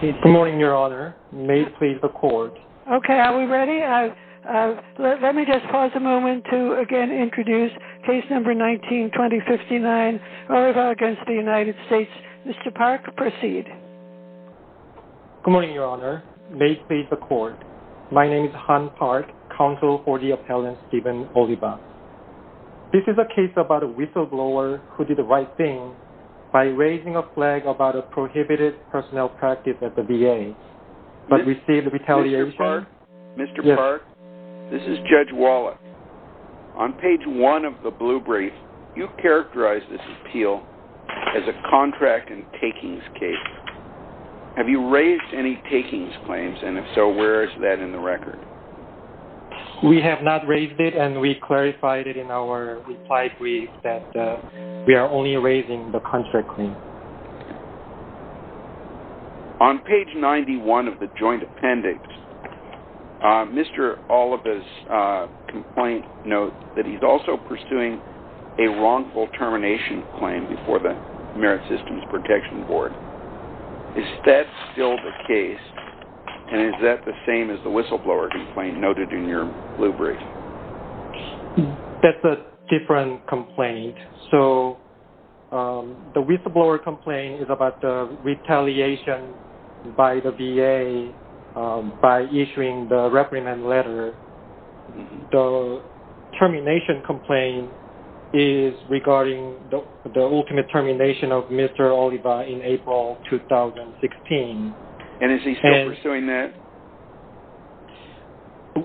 Good morning, your honor. May it please the court. Okay, are we ready? Let me just pause a moment to again introduce case number 19-2059, Oliva v. United States. Mr. Park, proceed. Good morning, your honor. May it please the court. My name is Han Park, counsel for the appellant Stephen Oliva. This is a case about a whistleblower who did the right thing by raising a flag about a prohibited personnel practice at the VA but received retaliation. Mr. Park, this is Judge Wallace. On page one of the blue brief, you characterized this appeal as a contract and takings case. Have you raised any takings claims and if so where is that in the record? We have not raised it and we clarified it in our reply brief that we are only raising the contract claim. On page 91 of the joint appendix, Mr. Oliva's complaint notes that he's also pursuing a wrongful termination claim before the Merit Systems Protection Board. Is that still the case and is that the same as the whistleblower complaint noted in your blue brief? That's a different complaint. So the whistleblower complaint is about the retaliation by the VA by issuing the reprimand letter. The termination complaint is regarding the ultimate termination of Mr. Oliva in April 2016. And is he still pursuing that?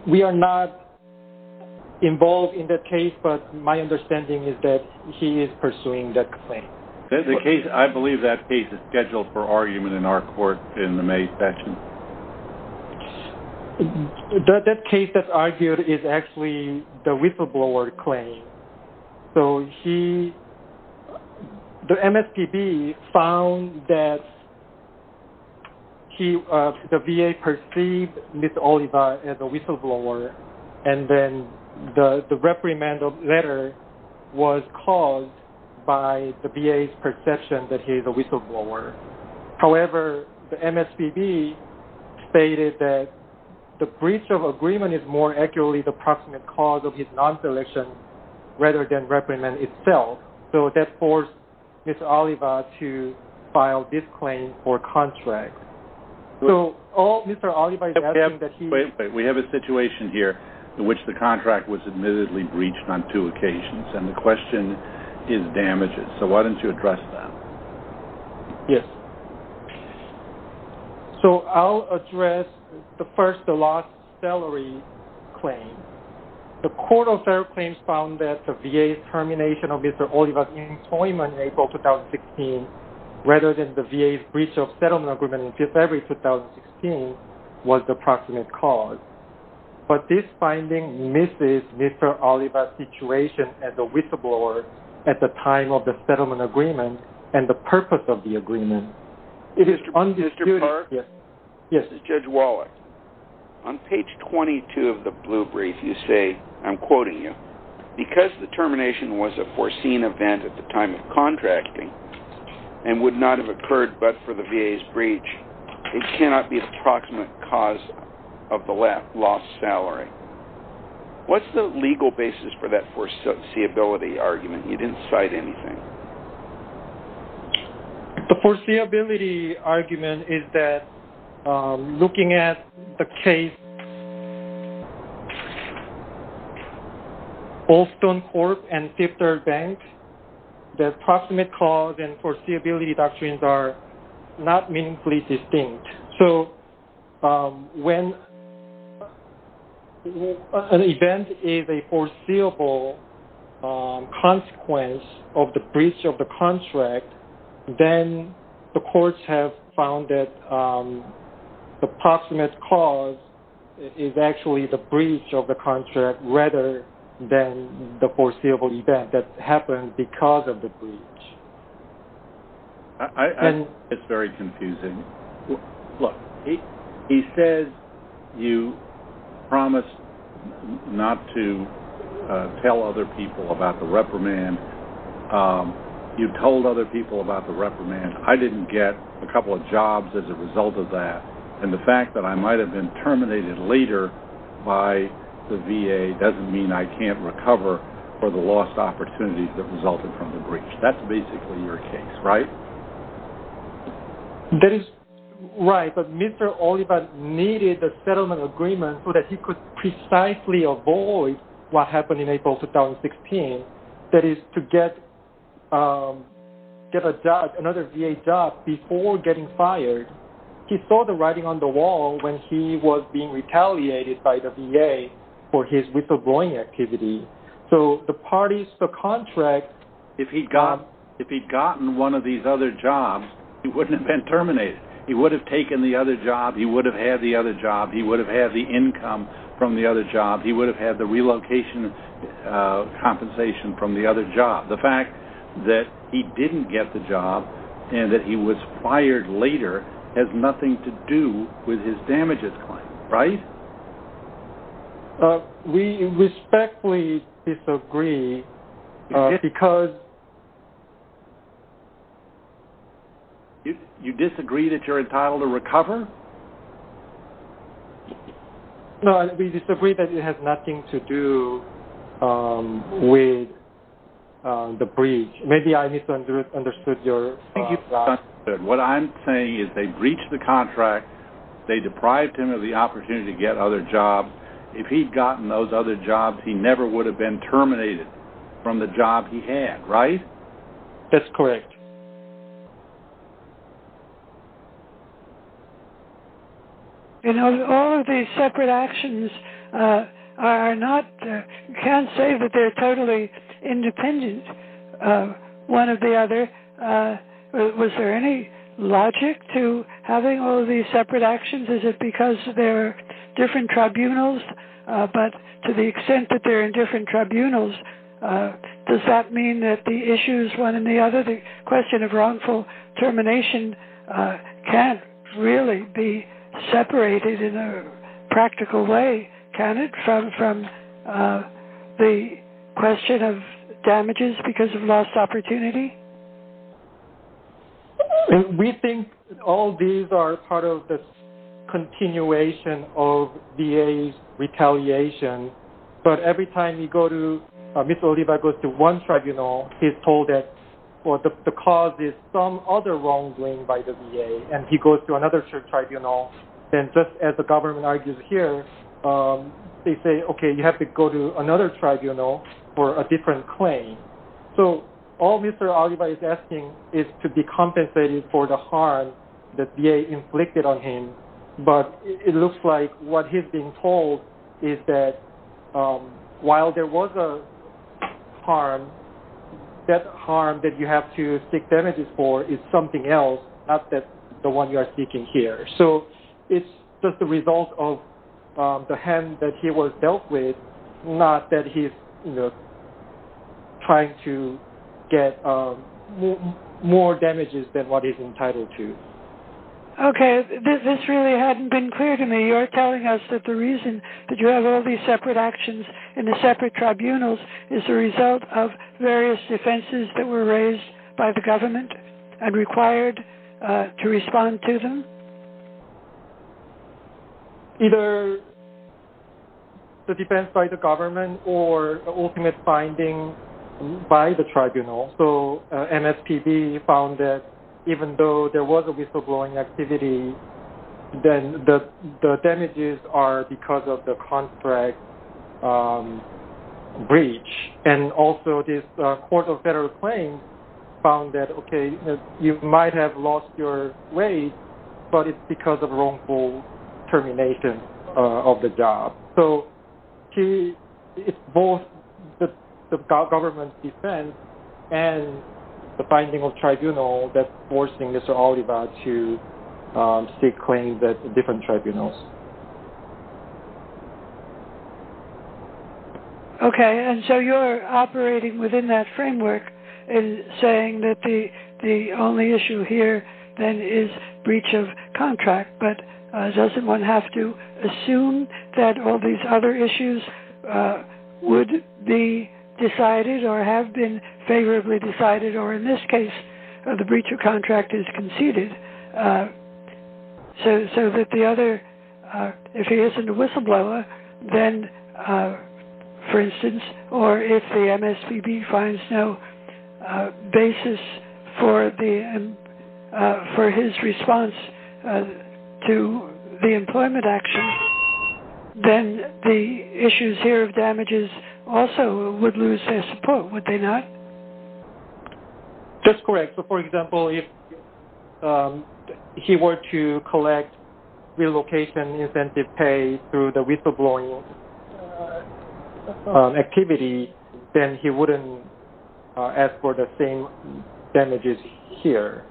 We are not involved in that case but my understanding is that he is pursuing that claim. I believe that case is scheduled for argument in our court in the May session. That case that's the VA perceived Mr. Oliva as a whistleblower and then the reprimand letter was caused by the VA's perception that he is a whistleblower. However, the MSPB stated that the breach of agreement is more accurately the proximate cause of his non-selection rather than reprimand itself. So that forced Mr. Oliva to file this claim for contract. So all Mr. Oliva... Wait, we have a situation here in which the contract was admittedly breached on two occasions and the question is damages. So why don't you address that? Yes. So I'll address the first, the last salary claim. The court of rather than the VA's breach of settlement agreement in February 2016 was the proximate cause. But this finding misses Mr. Oliva's situation as a whistleblower at the time of the settlement agreement and the purpose of the agreement. It is undisputed... Mr. Park? Yes. This is Judge Wallach. On page 22 of the blue brief you say, I'm quoting you, because the termination was a and would not have occurred but for the VA's breach. It cannot be a proximate cause of the left lost salary. What's the legal basis for that foreseeability argument? You didn't cite anything. The foreseeability argument is that looking at the case of Allstone Corp and Fifth Third Bank, the proximate cause and foreseeability doctrines are not meaningfully distinct. So when an event is a foreseeable consequence of the breach of settlement agreement, the breach of the contract, then the courts have found that the proximate cause is actually the breach of the contract rather than the foreseeable event that happened because of the breach. It's very confusing. Look, he says you promised not to tell other people about the reprimand. You told other people about the reprimand. I didn't get a couple of jobs as a result of that. And the fact that I might have been terminated later by the VA doesn't mean I can't recover for the lost opportunities that resulted from the breach. That's basically your case, right? That is right. But Mr. Oliver needed the settlement agreement so that he could precisely avoid what happened in April 2016. That is to get another VA job before getting fired. He saw the writing on the wall when he was being retaliated by the VA for his withholding activity. So the parties for contract, if he'd gotten one of these other jobs, he wouldn't have been terminated. He would have taken the other job. He would have had the other job. He would have had the income from the other job. He would have had the relocation compensation from the other job. The fact that he didn't get the job and that he was fired later has nothing to do with his damages claim, right? We respectfully disagree because... You disagree that you're entitled to recover? No, we disagree that it has nothing to do with the breach. Maybe I misunderstood your... What I'm saying is they breached the contract. They deprived him of the opportunity to get other jobs. If he'd gotten those other jobs, he never would have been terminated from the job he had, right? That's correct. You know, all of these separate actions are not... You can't say that they're totally independent, one of the other. Was there any logic to having all of these separate actions? Is it because they're different tribunals? But to the extent that they're in different tribunals, does that mean that the issues, one and the other... The question of wrongful termination can't really be separated in a practical way, can it, from the question of damages because of lost opportunity? We think all these are part of the continuation of VA's retaliation, but every time you go to... Mr. Oliva goes to one tribunal, he's told that the cause is some other wrongdoing by the VA, and he goes to another tribunal, then just as the government argues here, they say, okay, you have to go to another tribunal for a different claim. So all Mr. Oliva is asking is to be compensated for the harm that VA inflicted on him, but it looks like what he's being told is that while there was a harm, that harm that you have to seek damages for is something else, not the one you are seeking here. So it's just the result of the harm that he was dealt with, not that he's trying to get more damages than what he's entitled to. Okay, this really hadn't been clear to me. You're telling us that the reason that you have all these separate actions in the separate tribunals is the result of various offenses that were raised by the government and required to respond to them? Either the defense by the government or the ultimate finding by the tribunal. So MSPB found that even though there was a whistleblowing activity, then the damages are because of the contract breach. And also this Court of Federal Claims found that, okay, you might have lost your wage, but it's because of wrongful termination of the job. So it's both the government's defense and the finding of tribunal that's forcing Mr. Oliva to seek claims at different tribunals. Okay, and so you're operating within that framework and saying that the only issue here, then, is breach of contract. But doesn't one have to assume that all these other issues would be decided or have been favorably decided, or in this case, the breach of contract is conceded, so that the other issues are not? If he isn't a whistleblower, then, for instance, or if the MSPB finds no basis for his response to the employment action, then the issues here of damages also would lose their support, would they not? Just correct. So, for example, if he were to collect relocation incentive pay through the whistleblowing activity, then he wouldn't ask for the same damages here.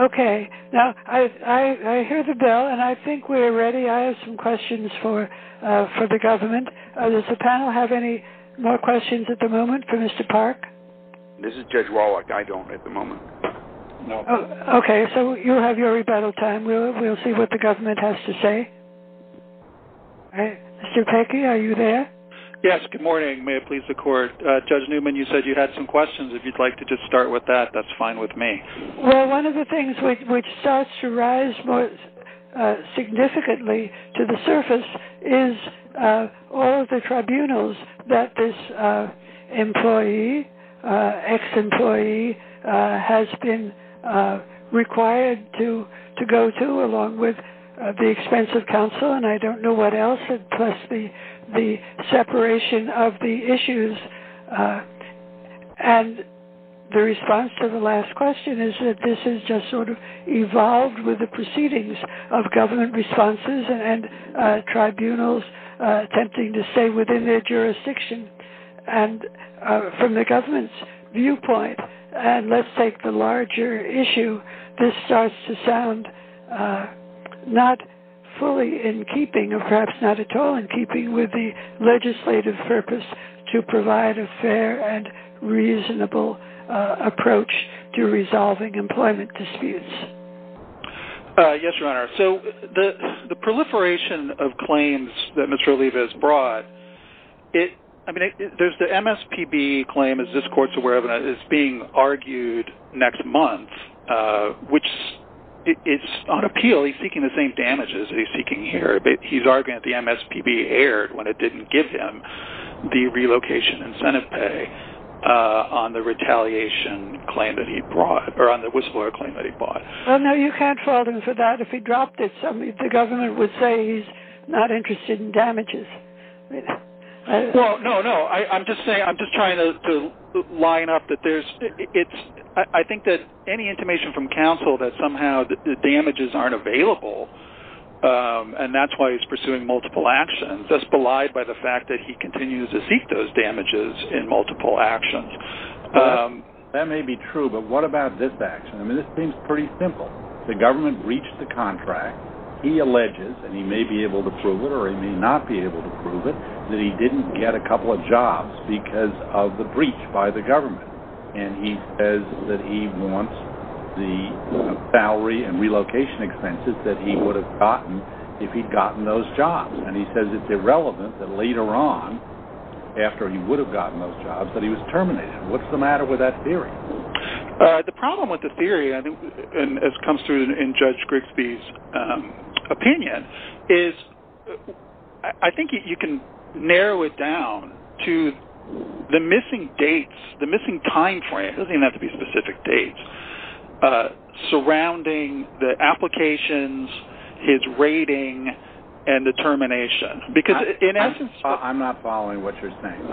Okay. Now, I hear the bell, and I think we're ready. I have some questions for the government. Does the panel have any more questions at the moment for Mr. Park? This is Judge Wallach. I don't at the moment. Okay, so you have your rebuttal time. We'll see what the government has to say. Mr. Pecky, are you there? Yes, good morning. May it please the court? Judge Newman, you said you had some questions. If you'd like to just start with that, that's fine with me. Well, one of the things which starts to rise significantly to the surface is all of the tribunals that this employee, ex-employee, has been required to go to along with the expense of counsel, and I don't know what else, plus the separation of the issues. And the response to the last question is that this has just sort of evolved with the proceedings of government responses and tribunals attempting to stay within their jurisdiction. And from the government's viewpoint, and let's take the larger issue, this starts to sound not fully in keeping, or perhaps not at all in keeping with the legislative purpose to provide a fair and reasonable approach to resolving employment disputes. Yes, Your Honor. So the proliferation of claims that Mr. Olivas brought, there's the MSPB claim, as this court's aware of, that is being argued next month, which is on appeal. Well, he's seeking the same damages that he's seeking here. He's arguing that the MSPB erred when it didn't give him the relocation incentive pay on the retaliation claim that he brought, or on the whistleblower claim that he brought. Well, no, you can't fault him for that. If he dropped it, the government would say he's not interested in damages. Well, no, no. I'm just trying to line up that there's – I think that any information from counsel that somehow the damages aren't available, and that's why he's pursuing multiple actions, is belied by the fact that he continues to seek those damages in multiple actions. That may be true, but what about this action? I mean, this seems pretty simple. The government breached the contract. He alleges, and he may be able to prove it or he may not be able to prove it, that he didn't get a couple of jobs because of the breach by the government. And he says that he wants the salary and relocation expenses that he would have gotten if he'd gotten those jobs. And he says it's irrelevant that later on, after he would have gotten those jobs, that he was terminated. What's the matter with that theory? The problem with the theory, as it comes through in Judge Grigsby's opinion, is I think you can narrow it down to the missing dates, the missing time frame – it doesn't even have to be specific dates – surrounding the applications, his rating, and the termination. I'm not following what you're saying.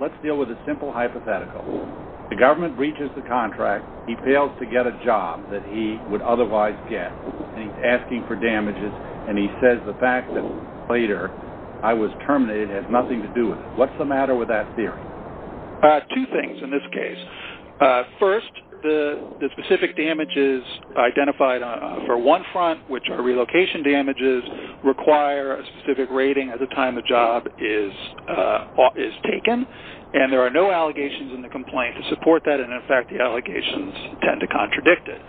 Let's deal with a simple hypothetical. The government breaches the contract, he fails to get a job that he would otherwise get, and he's asking for damages, and he says the fact that later I was terminated has nothing to do with it. What's the matter with that theory? Two things in this case. First, the specific damages identified for one front, which are relocation damages, require a specific rating at the time the job is taken, and there are no allegations in the complaint to support that, and in fact the allegations tend to contradict it.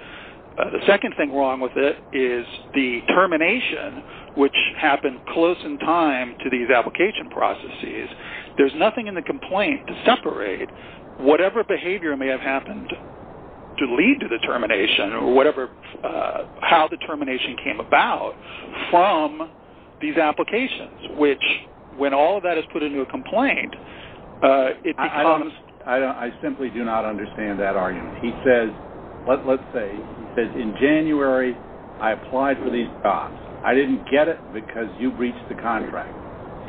The second thing wrong with it is the termination, which happened close in time to these application processes. There's nothing in the complaint to separate whatever behavior may have happened to lead to the termination or how the termination came about from these applications, which, when all of that is put into a complaint, it becomes… He says, in January, I applied for these jobs. I didn't get it because you breached the contract.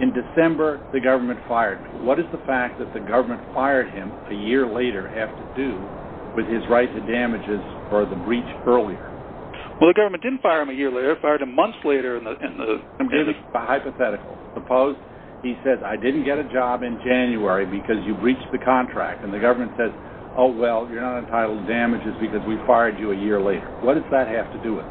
In December, the government fired me. What does the fact that the government fired him a year later have to do with his right to damages for the breach earlier? Well, the government didn't fire him a year later. It fired him months later. I'm giving a hypothetical. Suppose he says, I didn't get a job in January because you breached the contract, and the government says, oh, well, you're not entitled to damages because we fired you a year later. What does that have to do with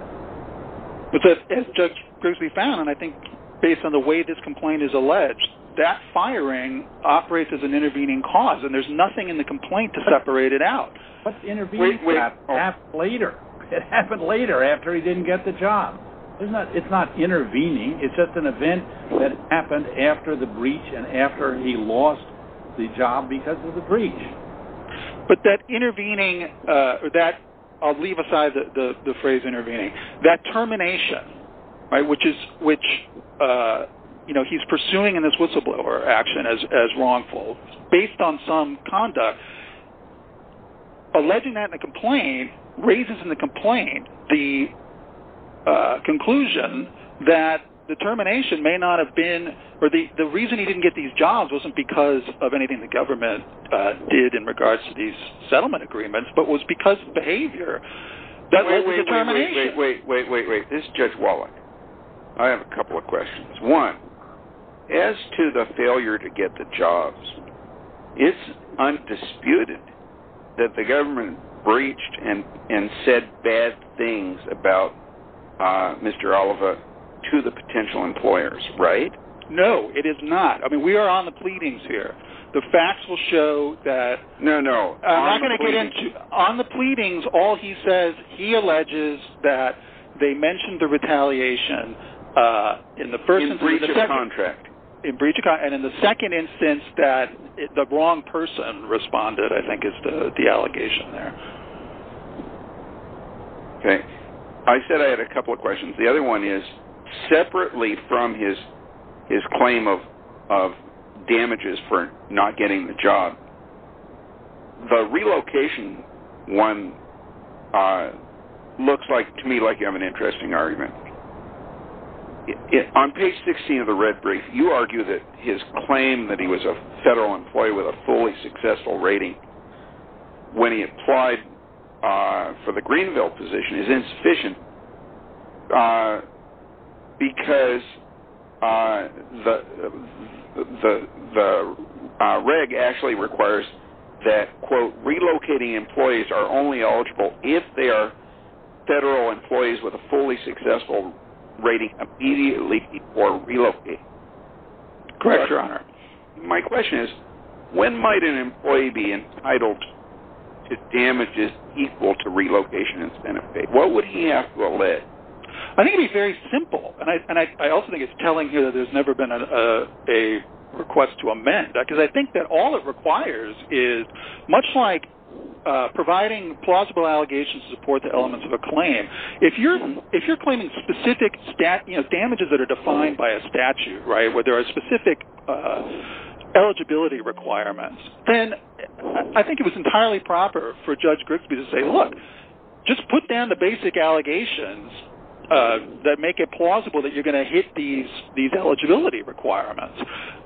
it? As Judge Grigsby found, and I think based on the way this complaint is alleged, that firing operates as an intervening cause, and there's nothing in the complaint to separate it out. What's intervening? It happened later after he didn't get the job. It's not intervening. It's just an event that happened after the breach and after he lost the job because of the breach. But that intervening – I'll leave aside the phrase intervening – that termination, which he's pursuing in this whistleblower action as wrongful based on some conduct, alleging that in the complaint raises in the complaint the conclusion that the termination may not have been – or the reason he didn't get these jobs wasn't because of anything the government did in regards to these settlement agreements, but was because of behavior. Wait, wait, wait. This is Judge Wallach. I have a couple of questions. One, as to the failure to get the jobs, it's undisputed that the government breached and said bad things about Mr. Oliva to the potential employers, right? No, it is not. I mean, we are on the pleadings here. The facts will show that – No, no. On the pleadings, all he says, he alleges that they mentioned the retaliation in the first instance – In breach of contract. In breach of contract, and in the second instance that the wrong person responded, I think, is the allegation there. Okay. I said I had a couple of questions. The other one is, separately from his claim of damages for not getting the job, the relocation one looks to me like you have an interesting argument. On page 16 of the red brief, you argue that his claim that he was a federal employee with a fully successful rating when he applied for the Greenville position is insufficient because the reg actually requires that, quote, federal employees with a fully successful rating immediately before relocation. Correct, Your Honor. My question is, when might an employee be entitled to damages equal to relocation incentive pay? What would he have to allege? I think it would be very simple. And I also think it's telling here that there's never been a request to amend. Because I think that all it requires is, much like providing plausible allegations to support the elements of a claim, if you're claiming specific damages that are defined by a statute, where there are specific eligibility requirements, then I think it was entirely proper for Judge Grigsby to say, look, just put down the basic allegations that make it plausible that you're going to hit these eligibility requirements.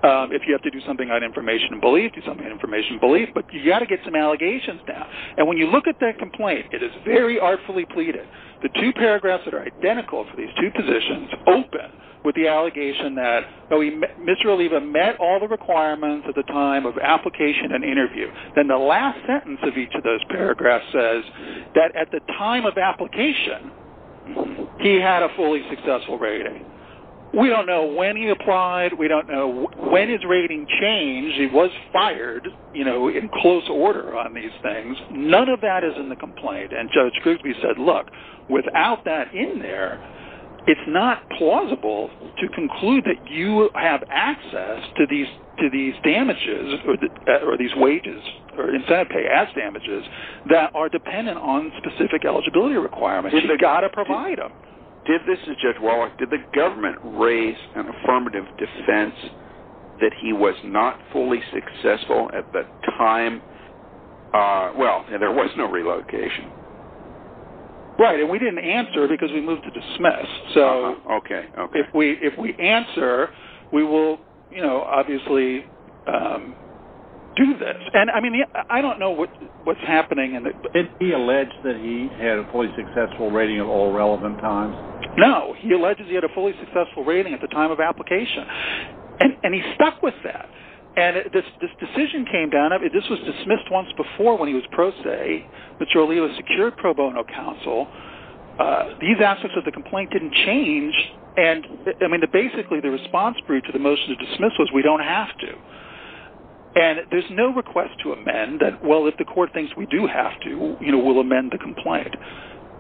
If you have to do something on information and belief, do something on information and belief, but you've got to get some allegations down. And when you look at that complaint, it is very artfully pleaded. The two paragraphs that are identical for these two positions open with the allegation that Mr. Oliva met all the requirements at the time of application and interview. Then the last sentence of each of those paragraphs says that at the time of application, he had a fully successful rating. We don't know when he applied. We don't know when his rating changed. He was fired in close order on these things. None of that is in the complaint. And Judge Grigsby said, look, without that in there, it's not plausible to conclude that you have access to these damages or these wages or incentive pay as damages that are dependent on specific eligibility requirements. You've got to provide them. Did the government raise an affirmative defense that he was not fully successful at the time? Well, there was no relocation. Right. And we didn't answer because we moved to dismiss. So if we answer, we will obviously do this. And I don't know what's happening. Did he allege that he had a fully successful rating at all relevant times? No. He alleges he had a fully successful rating at the time of application. And he stuck with that. And this decision came down. This was dismissed once before when he was pro se, but surely it was secured pro bono counsel. These aspects of the complaint didn't change. And I mean, basically, the response to the motion of dismissal is we don't have to. And there's no request to amend that. Well, if the court thinks we do have to, we'll amend the complaint.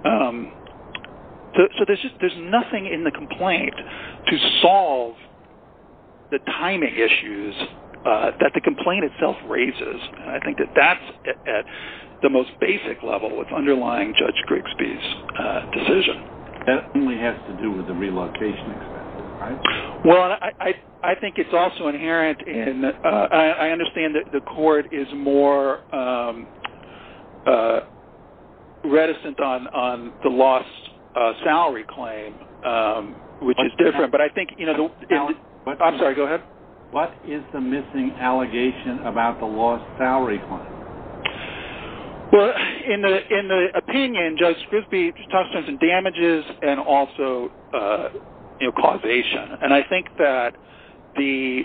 So there's nothing in the complaint to solve the timing issues that the complaint itself raises. And I think that that's at the most basic level with underlying Judge Grigsby's decision. That only has to do with the relocation. Well, I think it's also inherent in I understand that the court is more reticent on the lost salary claim, which is different. I'm sorry. Go ahead. What is the missing allegation about the lost salary claim? Well, in the opinion, Judge Grigsby just talks about damages and also causation. And I think that the...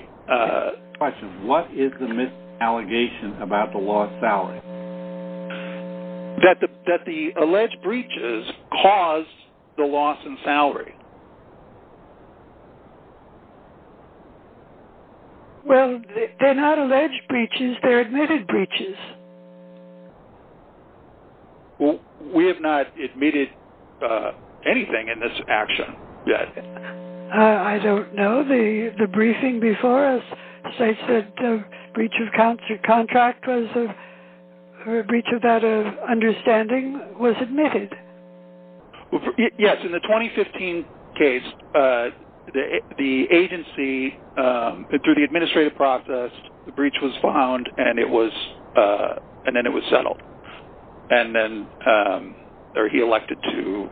Question. What is the missed allegation about the lost salary? That the alleged breaches caused the loss in salary. Well, they're not alleged breaches. They're admitted breaches. Well, we have not admitted anything in this action yet. I don't know. The briefing before us states that the breach of contract was a breach of that understanding was admitted. Yes. In the 2015 case, the agency, through the administrative process, the breach was found and then it was settled. And then he elected to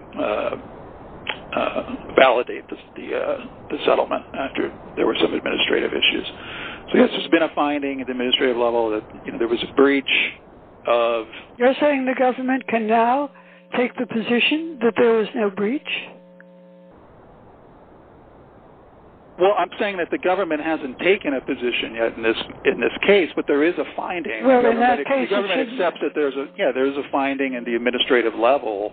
validate the settlement after there were some administrative issues. So yes, there's been a finding at the administrative level that there was a breach of... You're saying the government can now take the position that there is no breach? Well, I'm saying that the government hasn't taken a position yet in this case, but there is a finding... Well, in that case... The government accepts that there's a finding at the administrative level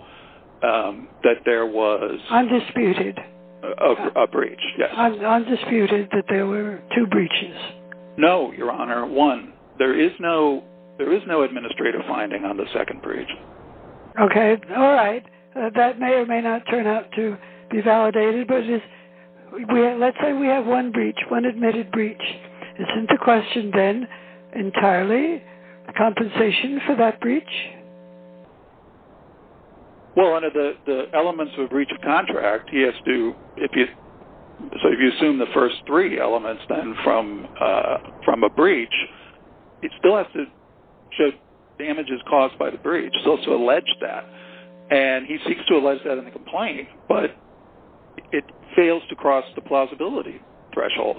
that there was... Undisputed. A breach, yes. Undisputed that there were two breaches. No, Your Honor, one. There is no administrative finding on the second breach. Okay. All right. That may or may not turn out to be validated, but let's say we have one breach, one admitted breach. Isn't the question then entirely compensation for that breach? Well, under the elements of a breach of contract, he has to... So if you assume the first three elements then from a breach, it still has to show damages caused by the breach. It's also alleged that. And he seeks to allege that in the complaint, but it fails to cross the plausibility threshold.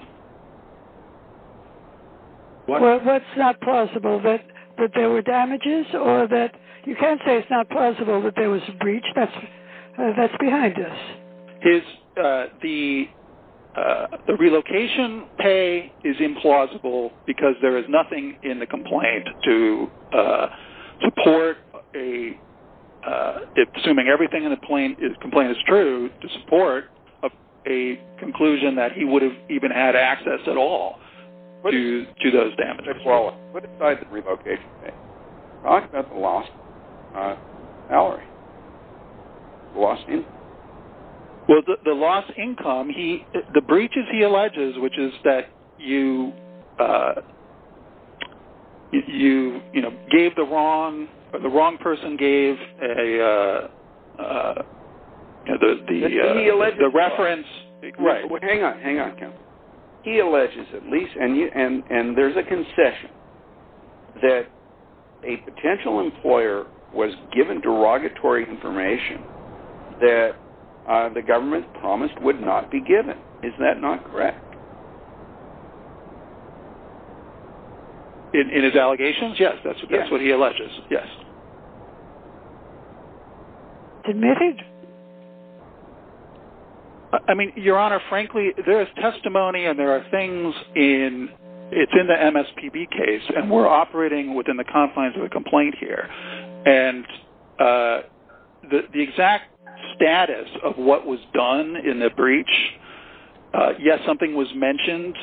Well, what's not plausible? That there were damages or that... You can't say it's not plausible that there was a breach. That's behind this. The relocation pay is implausible because there is nothing in the complaint to support a... ...to those damages. What besides the relocation pay? That's a lost salary. A lost income. Well, the lost income, the breaches he alleges, which is that you gave the wrong... The wrong person gave a... He alleges... The reference... Hang on, hang on, Ken. He alleges at least, and there's a concession, that a potential employer was given derogatory information that the government promised would not be given. Isn't that not correct? In his allegations? Yes, that's what he alleges. Yes. Admitted? I mean, Your Honor, frankly, there is testimony and there are things in... It's in the MSPB case, and we're operating within the confines of a complaint here. And the exact status of what was done in the breach... Yes, something was mentioned,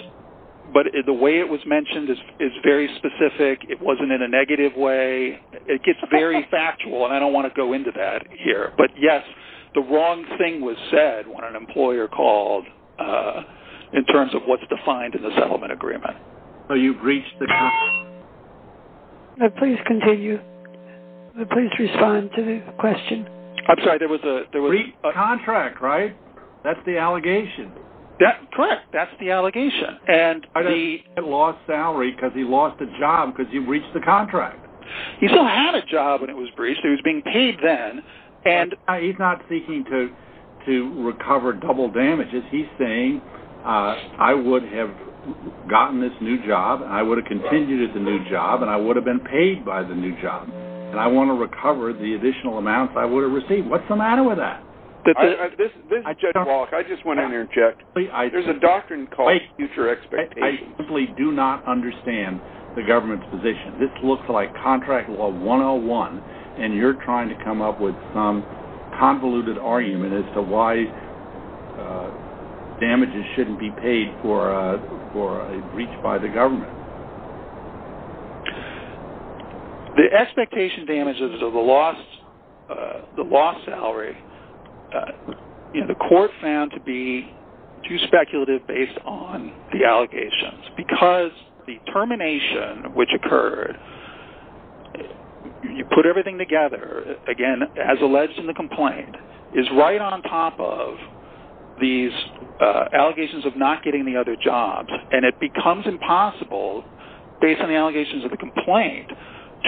but the way it was mentioned is very specific. It wasn't in a negative way. It gets very factual, and I don't want to go into that here. But yes, the wrong thing was said when an employer called in terms of what's defined in the settlement agreement. So you've reached the... Please continue. Please respond to the question. I'm sorry, there was a... Contract, right? That's the allegation. Correct, that's the allegation. And he lost salary because he lost a job because you've reached the contract. He still had a job when it was breached. He was being paid then, and... He's not seeking to recover double damages. He's saying, I would have gotten this new job, and I would have continued as a new job, and I would have been paid by the new job. And I want to recover the additional amounts I would have received. What's the matter with that? Judge Walker, I just want to interject. There's a doctrine called future expectations. I simply do not understand the government's position. This looks like contract law 101, and you're trying to come up with some convoluted argument as to why damages shouldn't be paid for a breach by the government. The expectation damages of the lost salary, the court found to be too speculative based on the allegations. Because the termination which occurred, you put everything together, again, as alleged in the complaint, is right on top of these allegations of not getting the other jobs. And it becomes impossible, based on the allegations of the complaint,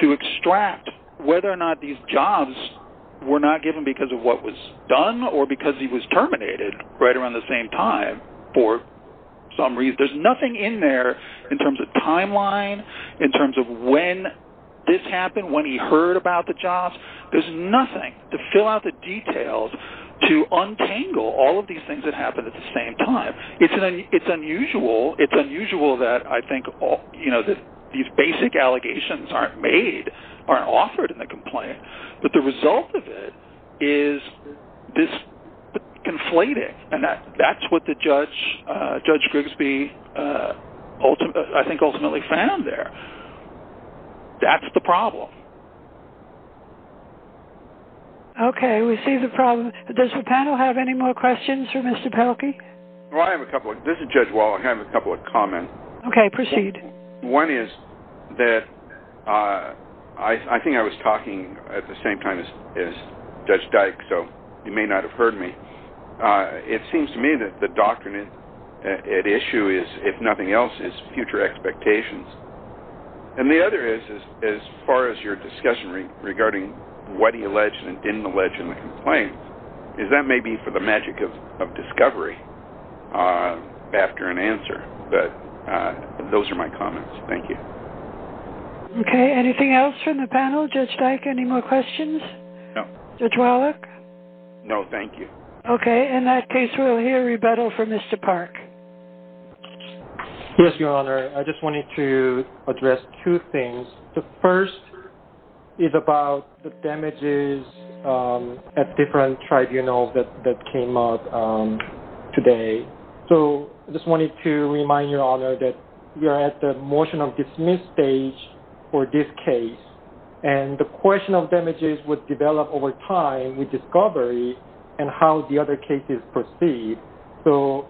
to extract whether or not these jobs were not given because of what was done or because he was terminated right around the same time. For some reason, there's nothing in there in terms of timeline, in terms of when this happened, when he heard about the jobs. There's nothing to fill out the details to untangle all of these things that happened at the same time. It's unusual that these basic allegations aren't made, aren't offered in the complaint. But the result of it is this conflating. And that's what Judge Grigsby ultimately found there. That's the problem. Okay, we see the problem. Does the panel have any more questions for Mr. Pelkey? This is Judge Wallach. I have a couple of comments. Okay, proceed. One is that I think I was talking at the same time as Judge Dyke, so you may not have heard me. It seems to me that the doctrine at issue is, if nothing else, is future expectations. And the other is, as far as your discussion regarding what he alleged and didn't allege in the complaint, is that may be for the magic of discovery after an answer. But those are my comments. Thank you. Okay, anything else from the panel? Judge Dyke, any more questions? No. Judge Wallach? No, thank you. Okay, in that case, we'll hear rebuttal from Mr. Park. Yes, Your Honor. I just wanted to address two things. The first is about the damages at different tribunals that came up today. So I just wanted to remind Your Honor that we are at the motion of dismiss stage for this case. And the question of damages would develop over time with discovery and how the other cases proceed. So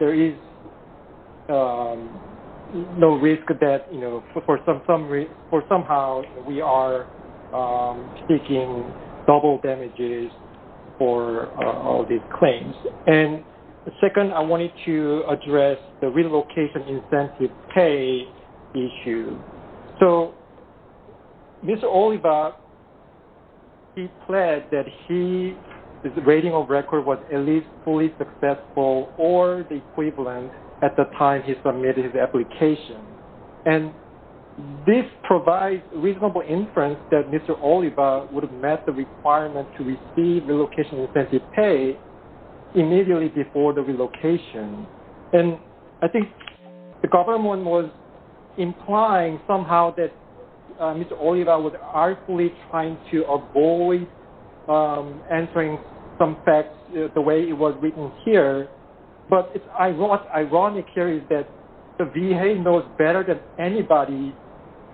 there is no risk that somehow we are seeking double damages for all these claims. And second, I wanted to address the relocation incentive pay issue. So Mr. Oliva, he pledged that his rating of record was at least fully successful or the equivalent at the time he submitted his application. And this provides reasonable inference that Mr. Oliva would have met the requirement to receive relocation incentive pay immediately before the relocation. And I think the government was implying somehow that Mr. Oliva was artfully trying to avoid answering some facts the way it was written here. But what's ironic here is that the VA knows better than anybody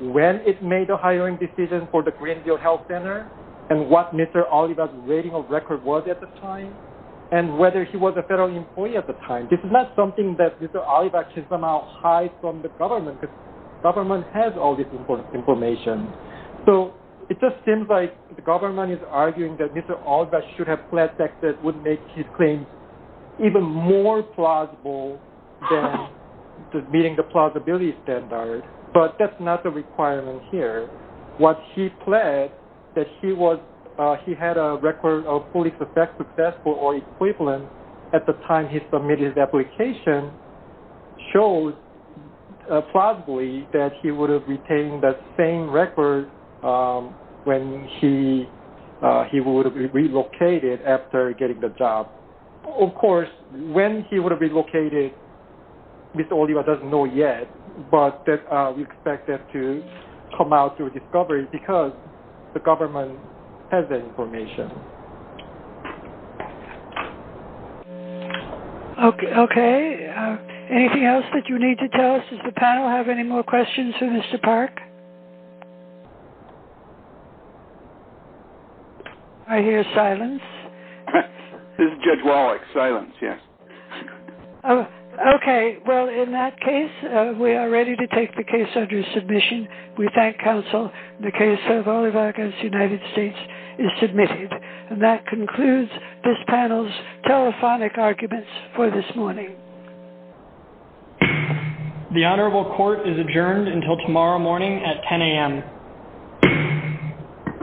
when it made a hiring decision for the Greenville Health Center and what Mr. Oliva's rating of record was at the time and whether he was a federal employee at the time. So this is not something that Mr. Oliva can somehow hide from the government because the government has all this information. So it just seems like the government is arguing that Mr. Oliva should have pledged that it would make his claims even more plausible than meeting the plausibility standard. But that's not the requirement here. What he pledged that he had a record of fully successful or equivalent at the time he submitted his application showed plausibly that he would have retained the same record when he would have been relocated after getting the job. Of course, when he would have relocated, Mr. Oliva doesn't know yet, but we expect that to come out through discovery because the government has that information. Okay. Anything else that you need to tell us? Does the panel have any more questions for Mr. Park? I hear silence. Judge Wallach, silence, yes. Okay. Well, in that case, we are ready to take the case under submission. We thank counsel. The case of Oliva against the United States is submitted. And that concludes this panel's telephonic arguments for this morning. The Honorable Court is adjourned until tomorrow morning at 10 a.m.